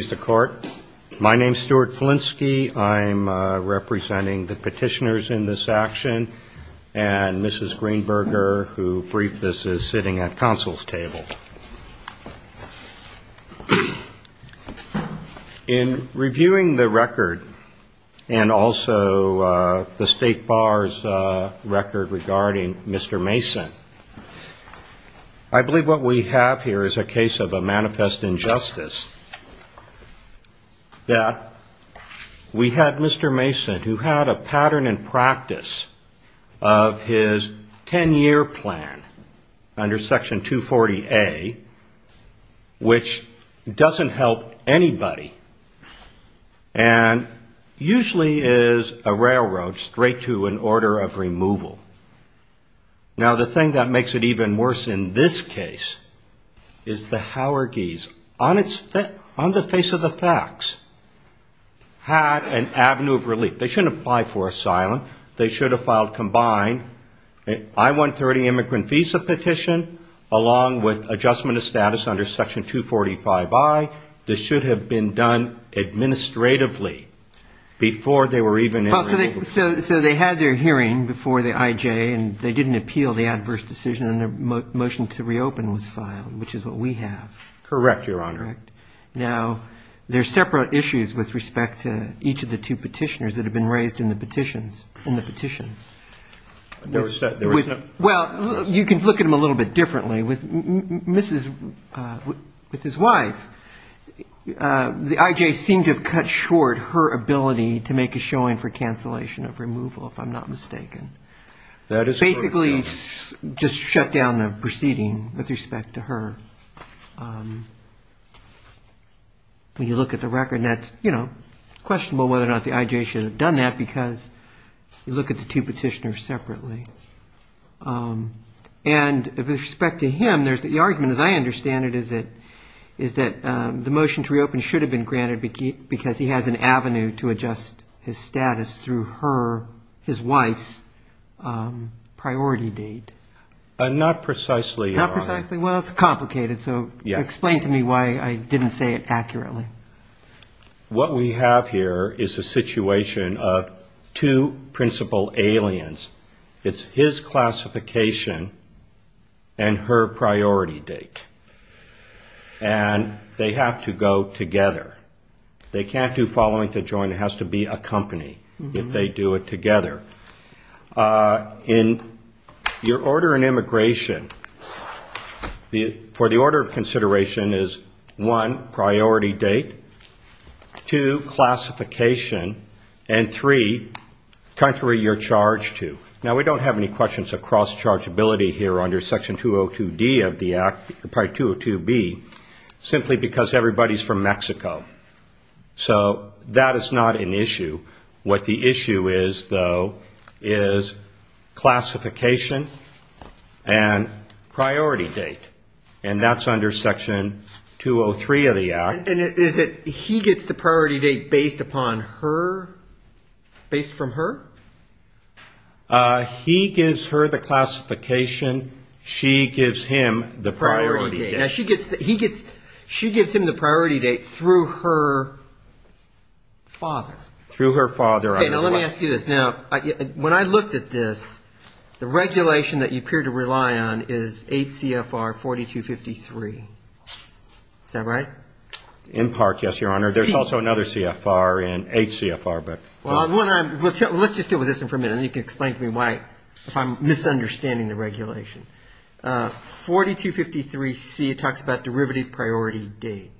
Mr. Court, my name is Stuart Flinsky. I'm representing the petitioners in this action and Mrs. Greenberger, who briefed this, is sitting at counsel's table. In reviewing the record and also the state bar's record regarding Mr. Mason, I believe what we have here is a case of a manifest injustice that we had Mr. Mason, who had a pattern and practice of his 10-year plan under Section 240A, which doesn't help anybody and usually is a railroad straight to an order of removal. Now, the thing that makes it even worse in this case is the Haureguis, on the face of the facts, had an avenue of relief. They shouldn't apply for asylum. They should have filed combined I-130 immigrant visa petition along with adjustment of status under Section 245I. This should have been done administratively before they were even able to do it. Robert Adler So they had their hearing before the IJ and they didn't appeal the adverse decision and their motion to reopen was filed, which is what we have. Stuart Flinsky Correct, Your Honor. Robert Adler Now, there are separate issues with respect to each of the two petitioners that have been raised in the petition. Robert Adler Well, you can look at them a little bit differently. With his wife, the IJ seemed to have cut short her ability to make a showing for cancellation of removal, if I'm not mistaken. Robert Adler Basically just shut down the proceeding with respect to her. Robert Adler When you look at the record, that's, you know, questionable whether or not the IJ should have done that because you look at the two petitioners separately. And with respect to him, the argument, as I understand it, is that the motion to reopen should have been granted because he has an avenue to adjust his status through her, his wife's, priority date. Stuart Flinsky Not precisely, Your Honor. Robert Adler Not precisely? Well, it's complicated, so explain to me why I didn't say it accurately. Stuart Flinsky What we have here is a situation of two principal aliens. It's his classification and her priority date. And they have to go together. They can't do following to join. It has to be a company if they do it together. In your order in immigration, for the order of consideration is, one, priority date, two, classification, and three, country you're charged to. Now, we don't have any questions of cross-chargeability here under Section 202D of the Act, or probably 202B, simply because everybody's from Mexico. So that is not an issue. What the issue is, though, is classification and priority date. And that's under Section 203 of the Act. Robert Adler And is it he gets the priority date based upon her, based from her? Stuart Flinsky He gives her the classification. She gives him the priority date. Robert Adler Priority date. Now, she gets, he gets, she gives him the priority date through her father. Stuart Flinsky Through her father. Robert Adler Okay, now let me ask you this. Now, when I looked at this, the regulation that you appear to rely on is 8 CFR 4253. Is that right? Stuart Flinsky In part, yes, Your Honor. There's also another CFR in, 8 CFR, but. Robert Adler Well, let's just deal with this one for a minute, and then you can explain to me why, if I'm misunderstanding the regulation. 4253C, it talks about derivative priority date,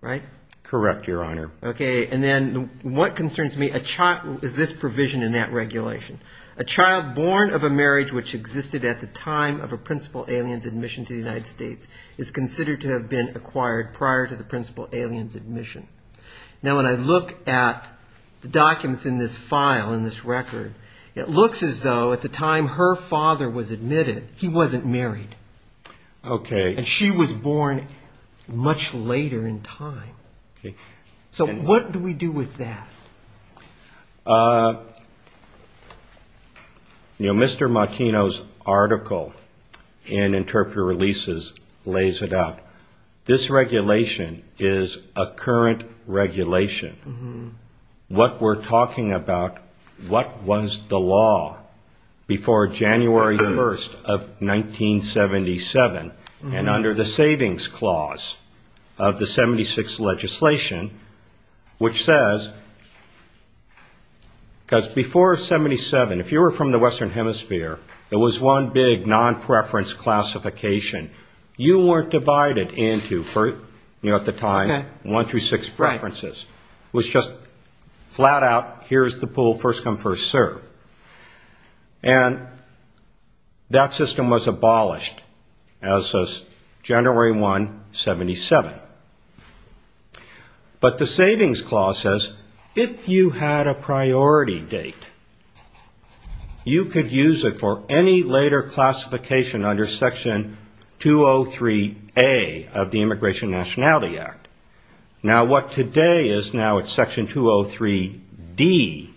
right? Stuart Flinsky Correct, Your Honor. Robert Adler Okay, and then what concerns me, is this provision in that regulation. A child born of a marriage which existed at the time of a principal alien's admission to the United States is considered to have been acquired prior to the principal alien's admission. Now, when I look at the documents in this file, in this record, it looks as though at the time her father was admitted, he wasn't married. Stuart Flinsky Okay. Robert Adler And she was born much later in time. Stuart Flinsky Okay. Robert Adler So, what do we do with that? You know, Mr. Martino's article in Interpreter Releases lays it out. This regulation is a current regulation. What we're talking about, what was the law before January 1st of 1977, and under the Savings Clause of the 76th legislation, which says, because before 77, if you were from the Western Hemisphere, there was one big non-preference classification. You weren't divided into, you know, at the time, one through six preferences. It was just flat out, here's the pool, first come, first serve. And that system was abolished as of January 1, 77. But the Savings Clause says, if you had a priority date, you could use it for any later classification under Section 203A of the Immigration Nationality Act. Now, what today is now it's Section 203D.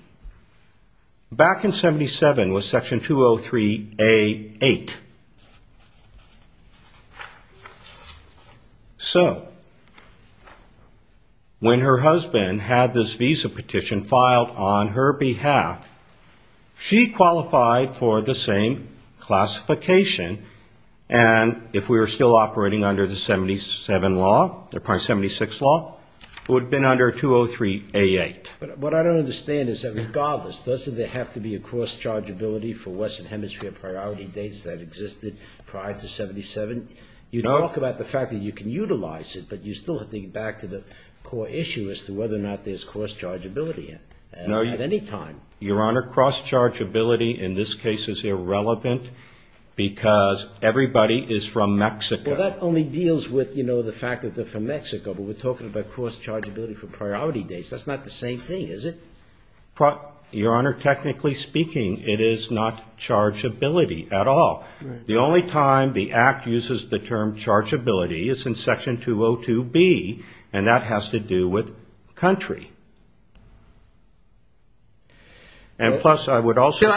Back in 77 was Section 203A.8. So, when her husband had this visa petition filed on her behalf, she qualified for the same classification, and if we were still operating under the 77 law, the 76 law, it would have been under 203A.8. But what I don't understand is that regardless, doesn't there have to be a cross-chargeability for Western Hemisphere priority dates that exist? Prior to 77? You talk about the fact that you can utilize it, but you still have to get back to the core issue as to whether or not there's cross-chargeability at any time. Your Honor, cross-chargeability in this case is irrelevant because everybody is from Mexico. Well, that only deals with, you know, the fact that they're from Mexico, but we're talking about cross-chargeability for priority dates. That's not the same thing, is it? Your Honor, technically speaking, it is not chargeability at all. The only time the Act uses the term chargeability is in Section 202B, and that has to do with country. And plus, I would also...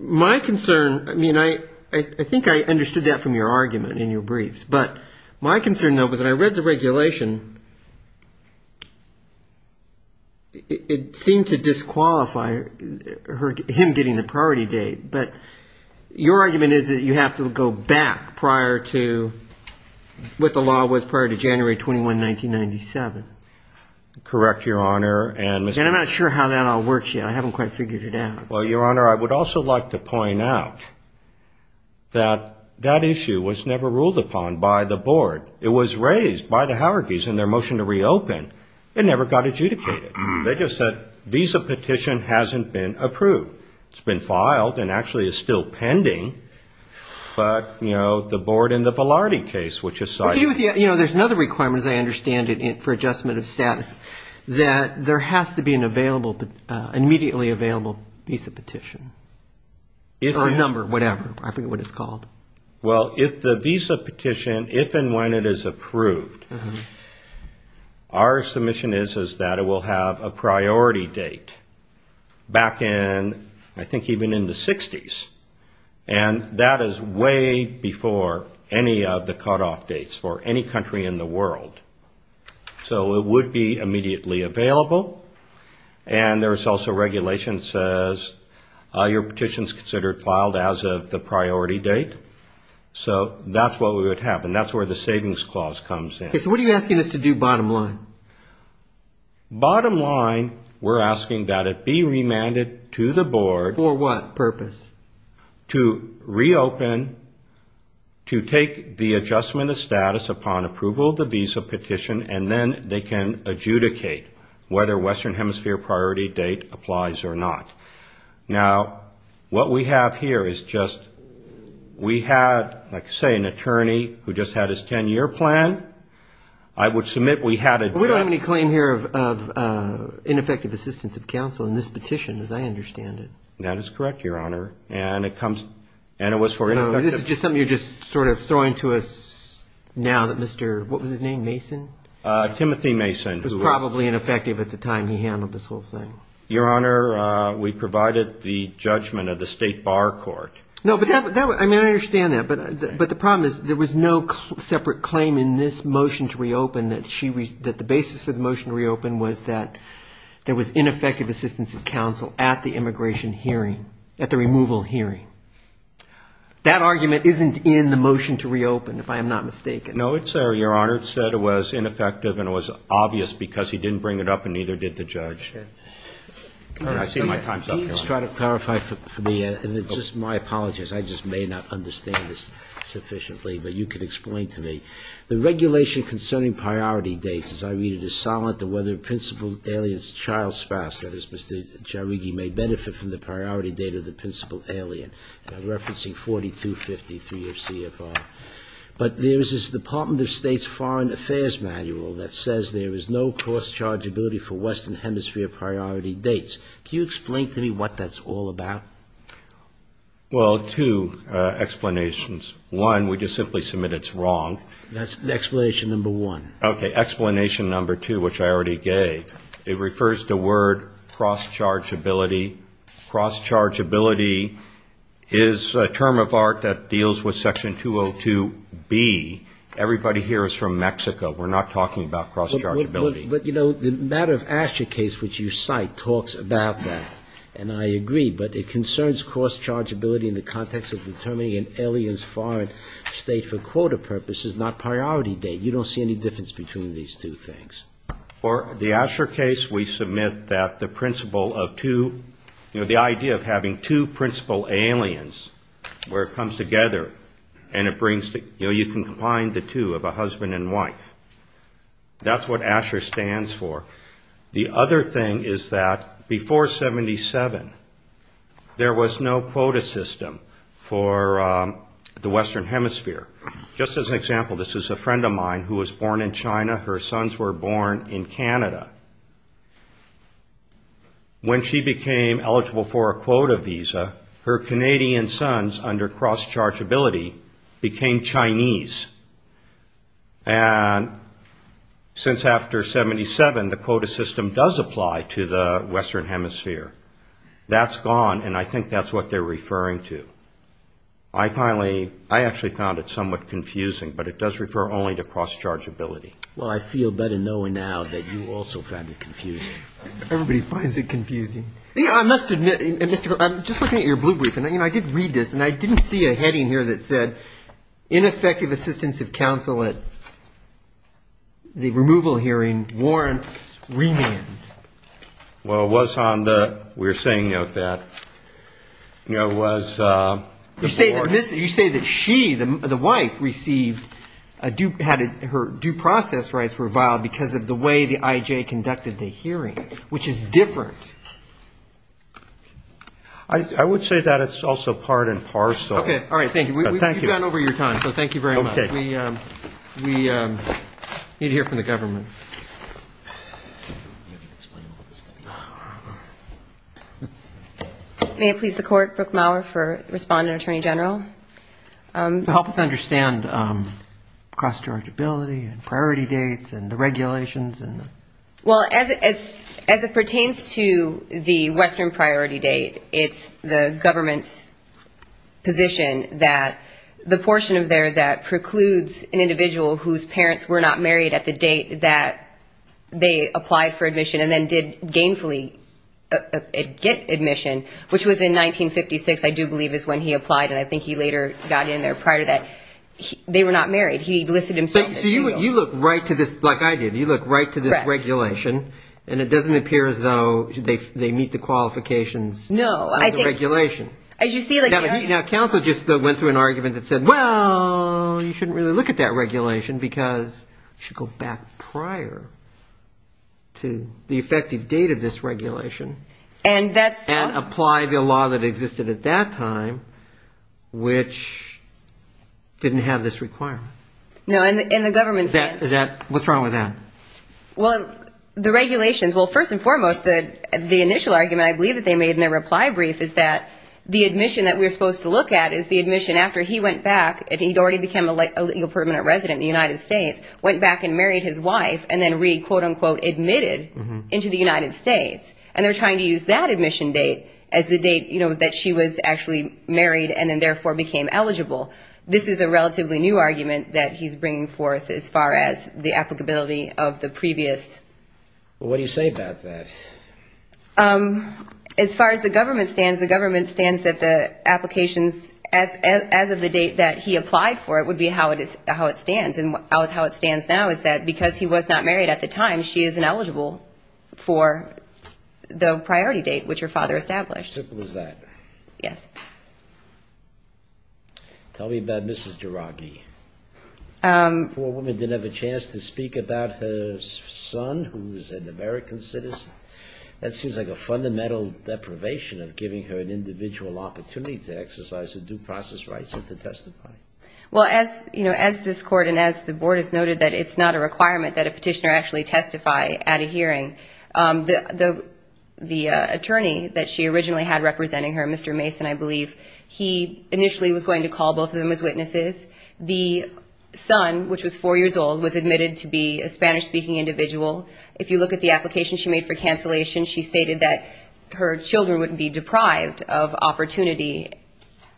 My concern, I mean, I think I understood that from your argument in your briefs. But my concern, though, was that I read the regulation. It seemed to disqualify him getting the priority date. But your argument is that you have to go back prior to what the law was prior to January 21, 1997. Correct, Your Honor. And I'm not sure how that all works yet. I haven't quite figured it out. Well, Your Honor, I would also like to point out that that issue was never ruled upon by the board. It was raised by the Howergees in their motion to reopen. It never got adjudicated. They just said visa petition hasn't been approved. It's been filed and actually is still pending. But, you know, the board in the Velarde case, which is cited... You know, there's another requirement, as I understand it, for adjustment of status, that there has to be an immediately available visa petition. Or number, whatever. I forget what it's called. Well, if the visa petition, if and when it is approved, our submission is that it will have a priority date back in, I think, even in the 60s. And that is way before any of the cutoff dates for any country in the world. So it would be immediately available. And there's also regulation that says your petition is considered filed as of the priority date. So that's what we would have. And that's where the savings clause comes in. So what are you asking us to do, bottom line? Bottom line, we're asking that it be remanded to the board... For what purpose? To reopen, to take the adjustment of status upon approval of the visa petition, and then they can adjudicate whether Western Hemisphere priority date applies or not. Now, what we have here is just... We had, like I say, an attorney who just had his 10-year plan. I would submit we had a... We don't have any claim here of ineffective assistance of counsel in this petition, as I understand it. That is correct, Your Honor. And it comes... And it was for ineffective... No, this is just something you're just sort of throwing to us now that Mr... What was his name, Mason? Timothy Mason, who was... It was probably ineffective at the time he handled this whole thing. Your Honor, we provided the judgment of the state bar court. No, but that... I mean, I understand that. But the problem is there was no separate claim in this motion to reopen that the basis of the motion to reopen was that there was ineffective assistance of counsel at the immigration hearing, at the removal hearing. That argument isn't in the motion to reopen, if I am not mistaken. No, it's there, Your Honor. It said it was ineffective and it was obvious because he didn't bring it up and neither did the judge. All right. I see my time's up, Your Honor. Can you just try to clarify for me, and just my apologies. I just may not understand this sufficiently, but you can explain to me. The regulation concerning priority dates, as I read it, is silent on whether a principal alien's child spouse, that is, Mr. Jairighi, may benefit from the priority date of the principal alien. I'm referencing 4253 of CFR. But there is this Department of State's Foreign Affairs Manual that says there is no cross-chargeability for Western Hemisphere priority dates. Can you explain to me what that's all about? Well, two explanations. One, we just simply submit it's wrong. That's explanation number one. Okay. Explanation number two, which I already gave. It refers to the word cross-chargeability. Cross-chargeability is a term of art that deals with Section 202B. Everybody here is from Mexico. We're not talking about cross-chargeability. But, you know, the matter of Asher case, which you cite, talks about that. And I agree. But it concerns cross-chargeability in the context of determining an alien's foreign state for quota purposes, not priority date. You don't see any difference between these two things. For the Asher case, we submit that the principle of two, you know, the idea of having two principal aliens where it comes together and it brings the, you know, you can combine the two of a husband and wife. That's what Asher stands for. The other thing is that before 77, there was no quota system for the Western Hemisphere. Just as an example, this is a friend of mine who was born in China. Her sons were born in Canada. When she became eligible for a quota visa, her Canadian sons, under cross-chargeability, became Chinese. And since after 77, the quota system does apply to the Western Hemisphere. That's gone, and I think that's what they're referring to. I finally, I actually found it somewhat confusing, but it does refer only to cross-chargeability. Well, I feel better knowing now that you also found it confusing. Everybody finds it confusing. I must admit, Mr. Crowley, I'm just looking at your blue brief, and I did read this, and I didn't see a heading here that said, ineffective assistance of counsel at the removal hearing warrants remand. Well, it was on the, we were saying, you know, that it was the board. You say that she, the wife, received, had her due process rights reviled because of the way the IJ conducted the hearing, which is different. I would say that it's also part and parcel. Okay, all right, thank you. You've gone over your time, so thank you very much. We need to hear from the government. I don't know how to explain all this to people. May it please the Court, Brooke Maurer for Respondent Attorney General. Help us understand cross-chargeability and priority dates and the regulations. Well, as it pertains to the Western priority date, it's the government's position that the portion of there that precludes an individual whose parents were not married at the date that they applied for admission and then did gainfully get admission, which was in 1956, I do believe is when he applied, and I think he later got in there prior to that. They were not married. He listed himself as legal. So you look right to this, like I did, you look right to this regulation, and it doesn't appear as though they meet the qualifications of the regulation. No, I think, as you see, like, Now counsel just went through an argument that said, Well, you shouldn't really look at that regulation, because you should go back prior to the effective date of this regulation and apply the law that existed at that time, which didn't have this requirement. No, and the government said... What's wrong with that? Well, the regulations, well, first and foremost, the initial argument I believe that they made in their reply brief is that the admission that we're supposed to look at is the admission after he went back, and he'd already become a legal permanent resident in the United States, went back and married his wife and then re-quote-unquote admitted into the United States. And they're trying to use that admission date as the date, you know, that she was actually married and then therefore became eligible. This is a relatively new argument that he's bringing forth as far as the applicability of the previous... Well, what do you say about that? As far as the government stands, as of the date that he applied for it would be how it stands. And how it stands now is that because he was not married at the time, she is ineligible for the priority date, which her father established. Simple as that. Yes. Tell me about Mrs. Jiraghi. The poor woman didn't have a chance to speak about her son, who's an American citizen. That seems like a fundamental deprivation of giving her an individual opportunity to exercise her due process rights and to testify. Well, as, you know, as this Court and as the Board has noted that it's not a requirement that a petitioner actually testify at a hearing, the attorney that she originally had representing her, Mr. Mason, I believe, he initially was going to call both of them as witnesses. The son, which was four years old, was admitted to be a Spanish-speaking individual. If you look at the application she made for cancellation, she stated that her children would be deprived of opportunity.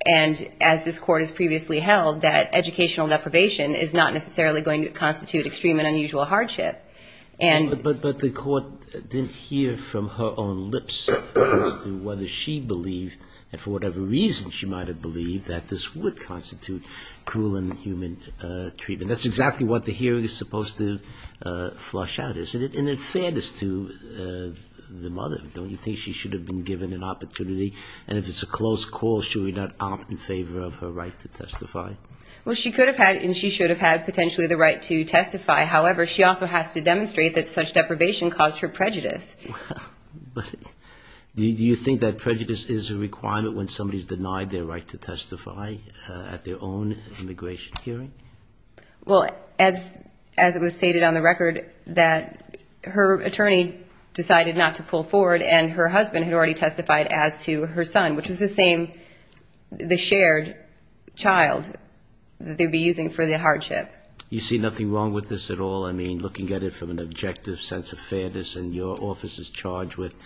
And as this Court has previously held, that educational deprivation is not necessarily going to constitute extreme and unusual hardship. But the Court didn't hear from her own lips as to whether she believed, and for whatever reason she might have believed, that this would constitute cruel and inhuman treatment. And that's exactly what the hearing is supposed to flush out, isn't it? And in fairness to the mother, don't you think she should have been given an opportunity? And if it's a close call, should we not opt in favor of her right to testify? Well, she could have had and she should have had potentially the right to testify. However, she also has to demonstrate that such deprivation caused her prejudice. But do you think that prejudice is a requirement when somebody's denied their right to testify at their own immigration hearing? Well, as it was stated on the record, that her attorney decided not to pull forward, and her husband had already testified as to her son, which was the same, the shared child they'd be using for the hardship. You see nothing wrong with this at all? I mean, looking at it from an objective sense of fairness, and your office is charged with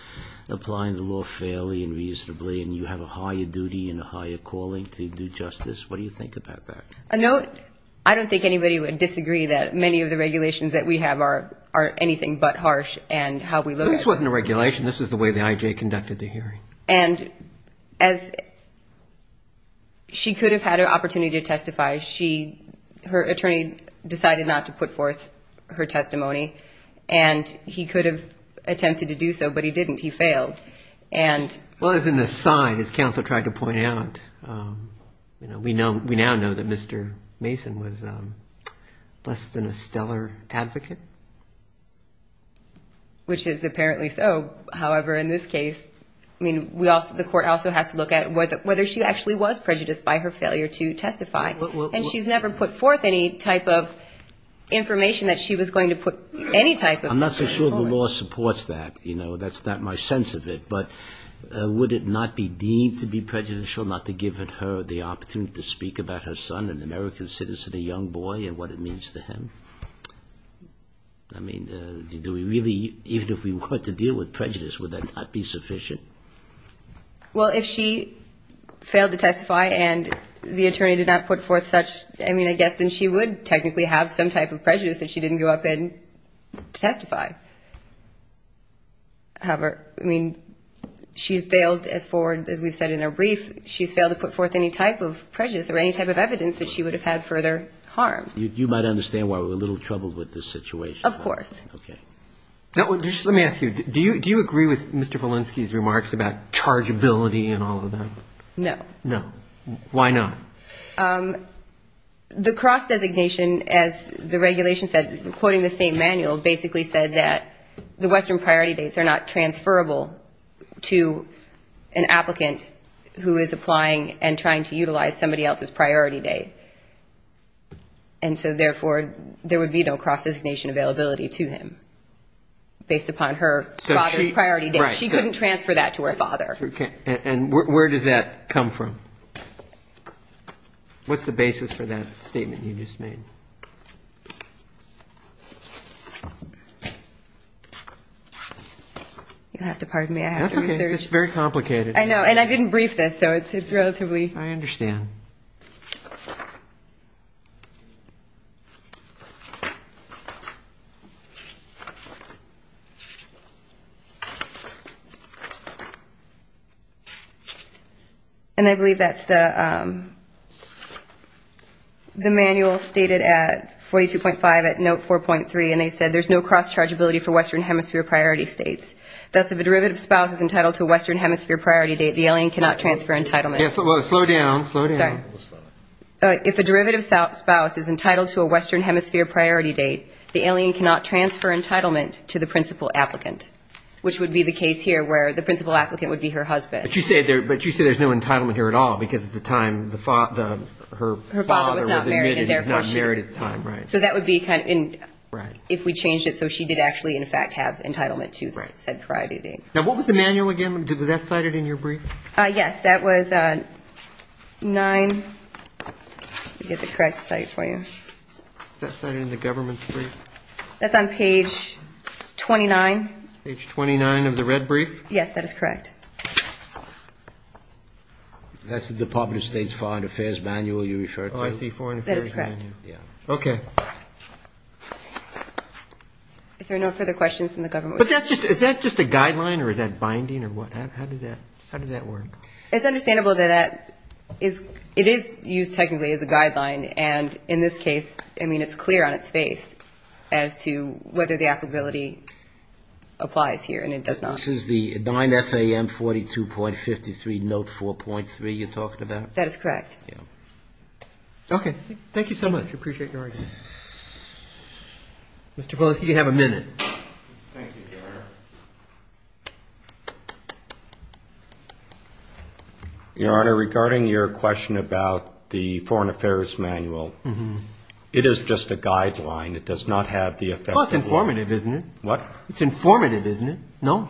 applying the law fairly and reasonably, and you have a higher duty and a higher calling to do justice, what do you think about that? I don't think anybody would disagree that many of the regulations that we have are anything but harsh and how we look at it. This wasn't a regulation. This is the way the IJ conducted the hearing. And as she could have had an opportunity to testify, her attorney decided not to put forth her testimony. And he could have attempted to do so, but he didn't. He failed. Well, as an aside, as counsel tried to point out, we now know that Mr. Mason was less than a stellar advocate. Which is apparently so. However, in this case, I mean, the court also has to look at whether she actually was prejudiced by her failure to testify. And she's never put forth any type of information that she was going to put any type of information forward. I'm not so sure the law supports that. That's not my sense of it. But would it not be deemed to be prejudicial not to give her the opportunity to speak about her son, an American citizen, a young boy, and what it means to him? I mean, do we really, even if we were to deal with prejudice, would that not be sufficient? Well, if she failed to testify and the attorney did not put forth such, I mean, I guess then she would technically have some type of prejudice that she didn't go up and testify. However, I mean, she's failed as forward, as we've said in our brief, she's failed to put forth any type of prejudice or any type of evidence that she would have had further harm. You might understand why we're a little troubled with this situation. Of course. Okay. Now, just let me ask you, do you agree with Mr. Polinsky's remarks about chargeability and all of that? No. No. Why not? The cross-designation, as the regulation said, quoting the same manual, basically said that the Western priority dates are not transferable to an applicant who is applying and trying to utilize somebody else's priority date. And so, therefore, there would be no cross-designation availability to him based upon her father's priority date. She couldn't transfer that to her father. And where does that come from? What's the basis for that statement you just made? You'll have to pardon me. That's okay. It's very complicated. I know. And I didn't brief this, so it's relatively... I understand. And I believe that's the manual stated at 42.5 at note 40. And they said there's no cross-chargeability for Western Hemisphere priority states. Thus, if a derivative spouse is entitled to a Western Hemisphere priority date, the alien cannot transfer entitlement. Slow down. Sorry. If a derivative spouse is entitled to a Western Hemisphere priority date, the alien cannot transfer entitlement to the principal applicant, which would be the case here where the principal applicant would be her husband. But you said there's no entitlement here at all, because at the time, her father was admitted. Her father was not married at the time. So that would be... Right. If we changed it so she did actually, in fact, have entitlement to said priority date. Now, what was the manual again? Was that cited in your brief? Yes. That was 9... Let me get the correct site for you. Is that cited in the government's brief? That's on page 29. Page 29 of the red brief? Yes, that is correct. That's the Department of State's Foreign Affairs manual you referred to. Oh, I see. Foreign Affairs manual. Okay. If there are no further questions from the government... But that's just... Is that just a guideline or is that binding or what? How does that work? It's understandable that that is... It is used technically as a guideline. And in this case, I mean, it's clear on its face as to whether the applicability applies here. And it does not. This is the 9 FAM 42.53 note 4.3 you're talking about? That is correct. Okay. Thank you so much. I appreciate your argument. Mr. Volesky, you have a minute. Thank you, Your Honor. Your Honor, regarding your question about the Foreign Affairs manual, it is just a guideline. It does not have the effect... Well, it's informative, isn't it? What? It's informative, isn't it? No.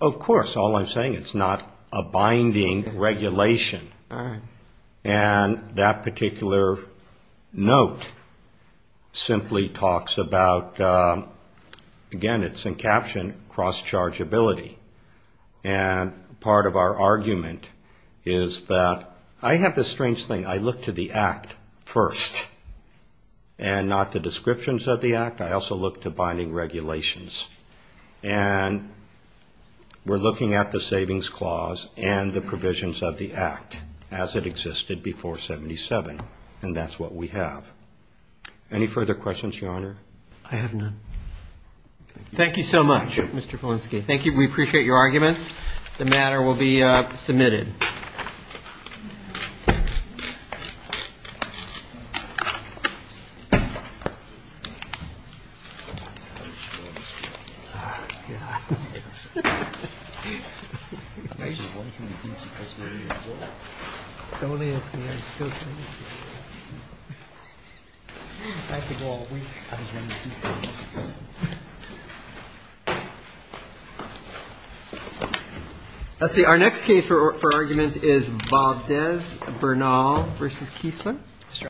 Of course. All I'm saying, it's not a binding regulation. All right. And that particular note simply talks about, again, it's in caption, cross-chargeability. And part of our argument is that... I have this strange thing. I look to the Act first and not the descriptions of the Act. I also look to binding regulations. And we're looking at the Savings Clause and the provisions of the Act as it existed before 77. And that's what we have. Any further questions, Your Honor? I have none. Thank you so much, Mr. Volesky. Thank you. We appreciate your arguments. The matter will be submitted. Ah, yeah. Don't ask me. I'm still trying to figure it out. I could go all week. Let's see. Our next case for argument is Bob Dez, Bernal v. Kiesler.